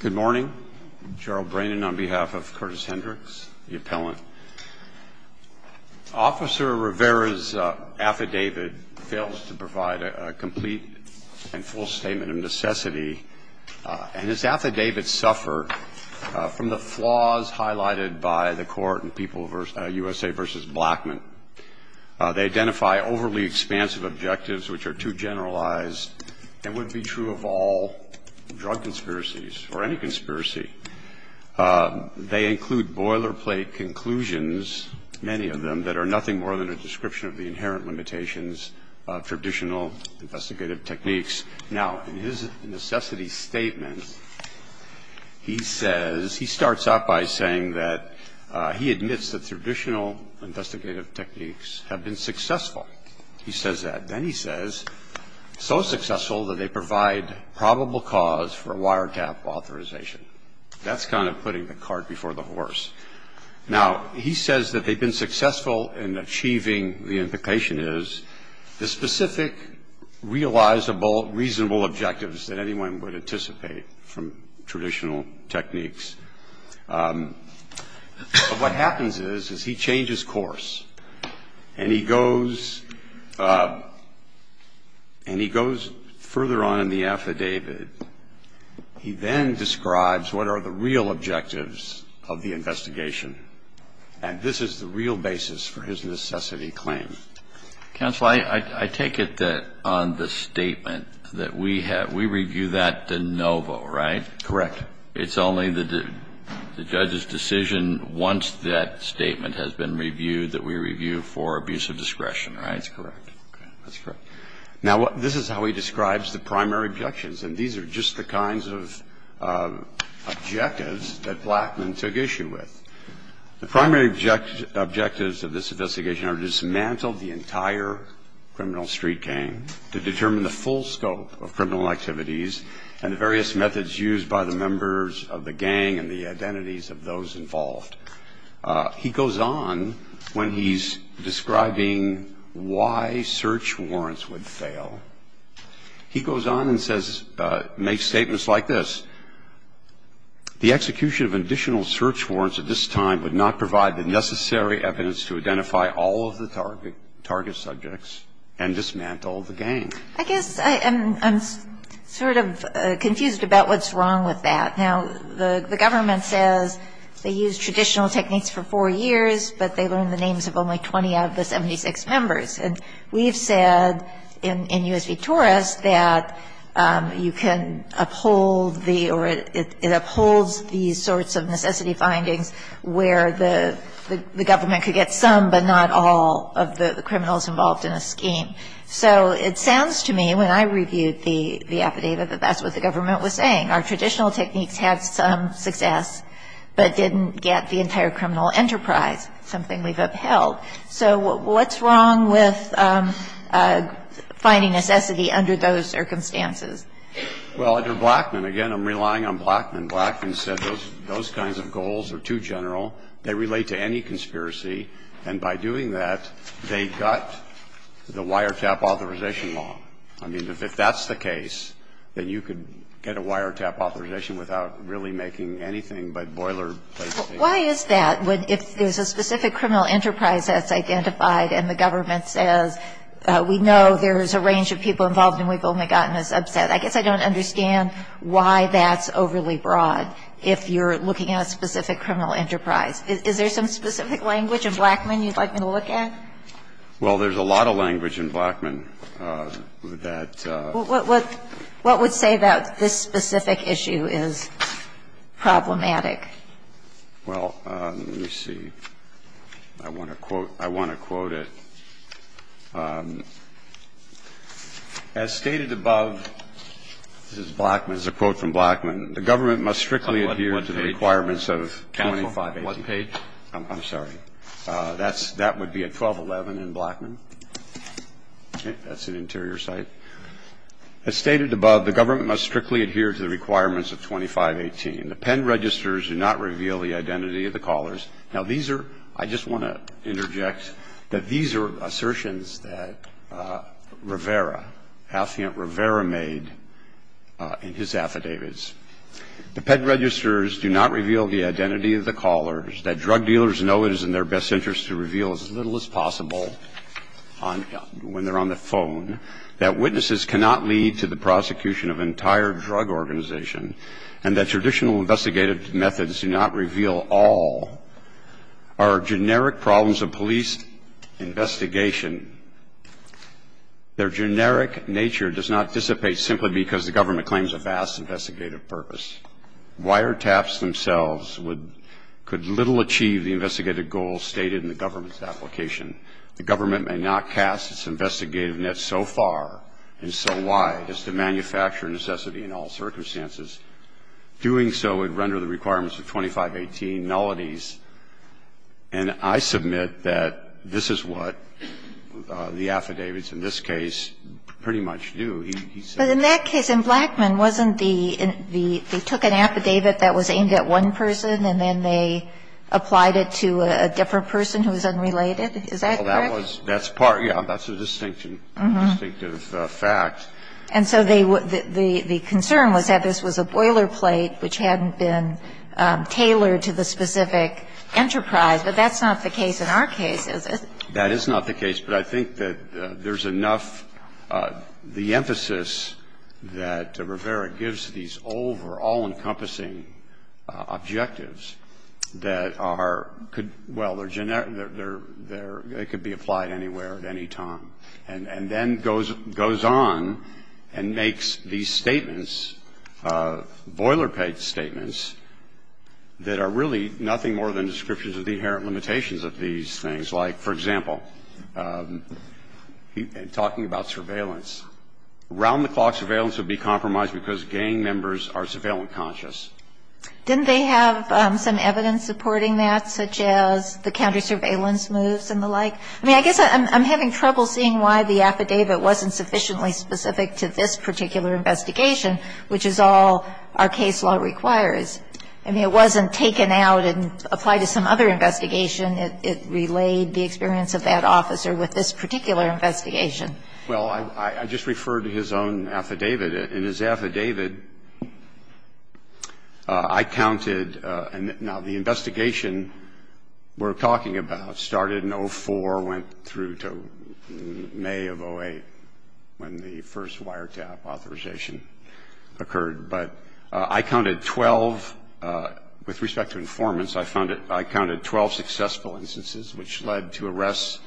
Good morning. Gerald Brannan on behalf of Curtis Hendrix, the appellant. Officer Rivera's affidavit fails to provide a complete and full statement of necessity, and his affidavits suffer from the flaws highlighted by the court in USA v. Blackmun. They identify overly expansive objectives which are too generalized and would be true of all drug conspiracies or any conspiracy. They include boilerplate conclusions, many of them, that are nothing more than a description of the inherent limitations of traditional investigative techniques. Now, in his necessity statement, he says, he starts out by saying that he admits that traditional investigative techniques have been successful. He says that. Then he says, so successful that they provide probable cause for wiretap authorization. That's kind of putting the cart before the horse. Now, he says that they've been successful in achieving the implication is the specific, realizable, reasonable objectives that anyone would anticipate from traditional techniques. But what happens is, is he changes course, and he goes further on in the affidavit. He then describes what are the real objectives of the investigation. And this is the real basis for his necessity claim. Counsel, I take it that on the statement that we have, we review that de novo, right? Correct. It's only the judge's decision once that statement has been reviewed that we review for abuse of discretion, right? That's correct. That's correct. Now, this is how he describes the primary objections. And these are just the kinds of objectives that Blackman took issue with. The primary objectives of this investigation are to dismantle the entire criminal street gang, to determine the full scope of criminal activities, and the various methods used by the members of the gang and the identities of those involved. He goes on when he's describing why search warrants would fail. He goes on and says, makes statements like this. The execution of additional search warrants at this time would not provide the necessary evidence to identify all of the target subjects and dismantle the gang. I guess I'm sort of confused about what's wrong with that. Now, the government says they used traditional techniques for four years, but they learned the names of only 20 out of the 76 members. And we've said in U.S. v. Torres that you can uphold the or it upholds these sorts of necessity findings where the government could get some but not all of the criminals involved in a scheme. So it sounds to me, when I reviewed the affidavit, that that's what the government was saying. Our traditional techniques had some success but didn't get the entire criminal enterprise, something we've upheld. So what's wrong with finding necessity under those circumstances? Well, under Blackman, again, I'm relying on Blackman. Blackman said those kinds of goals are too general. They relate to any conspiracy. And by doing that, they gut the wiretap authorization law. I mean, if that's the case, then you could get a wiretap authorization without really making anything but boilerplate things. Why is that? If there's a specific criminal enterprise that's identified and the government says we know there's a range of people involved and we've only gotten a subset, I guess I don't understand why that's overly broad if you're looking at a specific criminal enterprise. Is there some specific language in Blackman you'd like me to look at? Well, there's a lot of language in Blackman that ---- What would say that this specific issue is problematic? Well, let me see. I want to quote it. As stated above, this is Blackman. This is a quote from Blackman. The government must strictly adhere to the requirements of 2580. On what page? I'm sorry. That would be at 1211 in Blackman. That's an interior site. As stated above, the government must strictly adhere to the requirements of 2518. The pen registers do not reveal the identity of the callers. Now, these are ---- I just want to interject that these are assertions that Rivera, Affiant Rivera, made in his affidavits. The pen registers do not reveal the identity of the callers, that drug dealers know it is in their best interest to reveal as little as possible when they're on the phone, that witnesses cannot lead to the prosecution of an entire drug organization, and that traditional investigative methods do not reveal all, are generic problems of police investigation. Their generic nature does not dissipate simply because the government claims a vast investigative purpose. Wiretaps themselves would ---- could little achieve the investigative goals stated in the government's application. The government may not cast its investigative net so far and so wide as to manufacture necessity in all circumstances. Doing so would render the requirements of 2518 nullities. And I submit that this is what the affidavits in this case pretty much do. He said ---- But in that case, in Blackman, wasn't the ---- they took an affidavit that was aimed at one person, and then they applied it to a different person who was unrelated? Is that correct? Well, that was ---- that's part of ---- yeah, that's a distinction, a distinctive fact. And so they ---- the concern was that this was a boilerplate which hadn't been tailored to the specific enterprise, but that's not the case in our case, is it? That is not the case. But I think that there's enough ---- the emphasis that Rivera gives to these over all-encompassing objectives that are ---- could ---- well, they're generic, they're ---- they could be applied anywhere at any time, and then goes on and makes these statements, boilerplate statements, that are really nothing more than descriptions of the inherent limitations of these things, like, for example, in talking about surveillance. Around-the-clock surveillance would be compromised because gang members are surveillance conscious. Didn't they have some evidence supporting that, such as the counter-surveillance moves and the like? I mean, I guess I'm having trouble seeing why the affidavit wasn't sufficiently specific to this particular investigation, which is all our case law requires. I mean, it wasn't taken out and applied to some other investigation. It relayed the experience of that officer with this particular investigation. Well, I just referred to his own affidavit. In his affidavit, I counted ---- now, the investigation we're talking about started in 04, went through to May of 08 when the first wiretap authorization occurred. But I counted 12 ---- with respect to informants, I counted 12 successful instances which led to arrests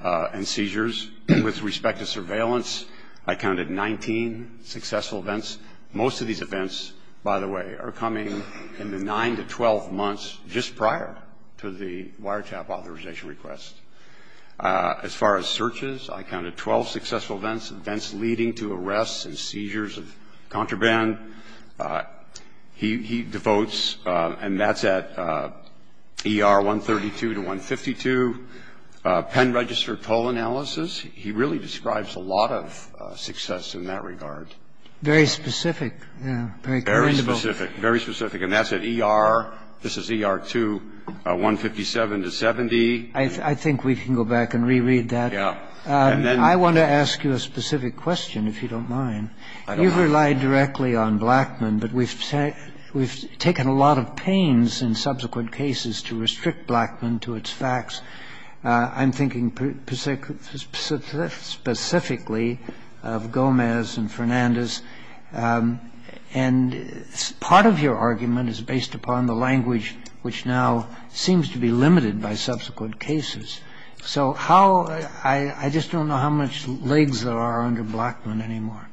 and seizures. With respect to surveillance, I counted 19 successful events. Most of these events, by the way, are coming in the 9 to 12 months just prior to the wiretap authorization request. As far as searches, I counted 12 successful events, events leading to arrests and I think that's a very specific amount of information. He devotes, and that's at ER 132 to 152, Penn Register toll analysis. He really describes a lot of success in that regard. Very specific. Very commendable. Very specific. Very specific. And that's at ER, this is ER 2, 157 to 70. I think we can go back and reread that. Yeah. I want to ask you a specific question, if you don't mind. I don't mind. You've relied directly on Blackman, but we've taken a lot of pains in subsequent cases to restrict Blackman to its facts. I'm thinking specifically of Gomez and Fernandez, and part of your argument is based upon the language which now seems to be limited by subsequent cases. So how – I just don't know how much legs there are under Blackman anymore.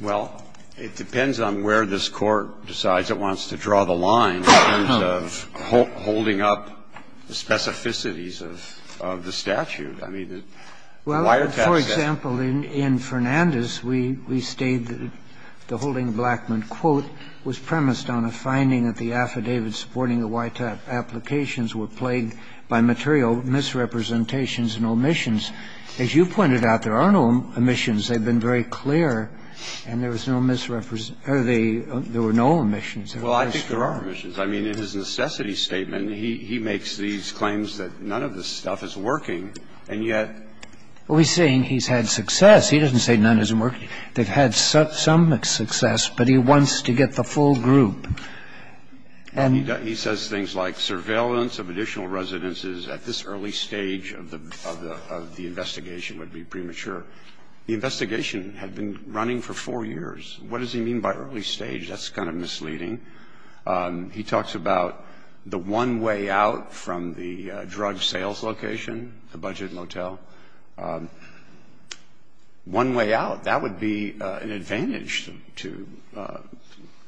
Well, it depends on where this Court decides it wants to draw the line in terms of holding up the specificities of the statute. I mean, the YTAP statute. Well, for example, in Fernandez, we state that the holding of Blackman, quote, was premised on a finding that the affidavits supporting the YTAP applications were plagued by material misrepresentations and omissions. As you pointed out, there are no omissions. They've been very clear, and there was no misrepresentation – there were no omissions. Well, I think there are omissions. I mean, in his necessity statement, he makes these claims that none of this stuff is working, and yet – Well, he's saying he's had success. He doesn't say none isn't working. They've had some success, but he wants to get the full group. And – He says things like surveillance of additional residences at this early stage of the investigation would be premature. The investigation had been running for four years. What does he mean by early stage? That's kind of misleading. He talks about the one way out from the drug sales location, the budget motel. One way out. That would be an advantage to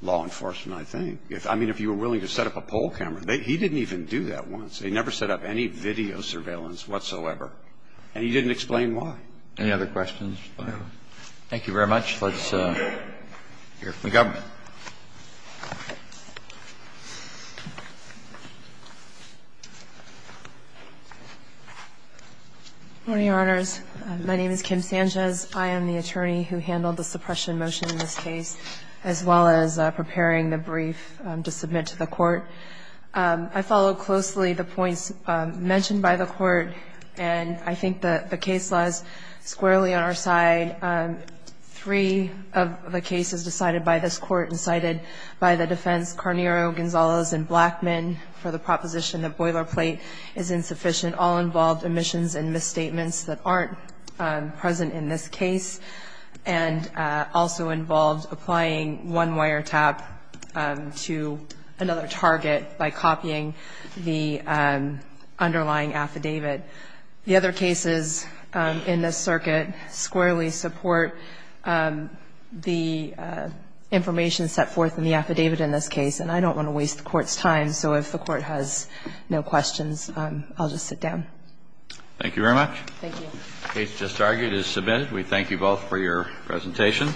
law enforcement, I think. I mean, if you were willing to set up a poll camera. He didn't even do that once. He never set up any video surveillance whatsoever, and he didn't explain why. Any other questions? Thank you very much. Let's hear from the government. Good morning, Your Honors. My name is Kim Sanchez. I am the attorney who handled the suppression motion in this case, as well as preparing the brief to submit to the Court. I follow closely the points mentioned by the Court, and I think the case lies squarely on our side. Three of the cases decided by this Court and cited by the defense, Carnero, Gonzalez, and Blackman, for the proposition that boilerplate is insufficient all involved omissions and misstatements that aren't present in this case, and also involved applying one wiretap to another target by copying the underlying affidavit. The other cases in this circuit squarely support the information set forth in the affidavit in this case. And I don't want to waste the Court's time, so if the Court has no questions, I'll just sit down. Thank you very much. Thank you. The case just argued is submitted. We thank you both for your presentation.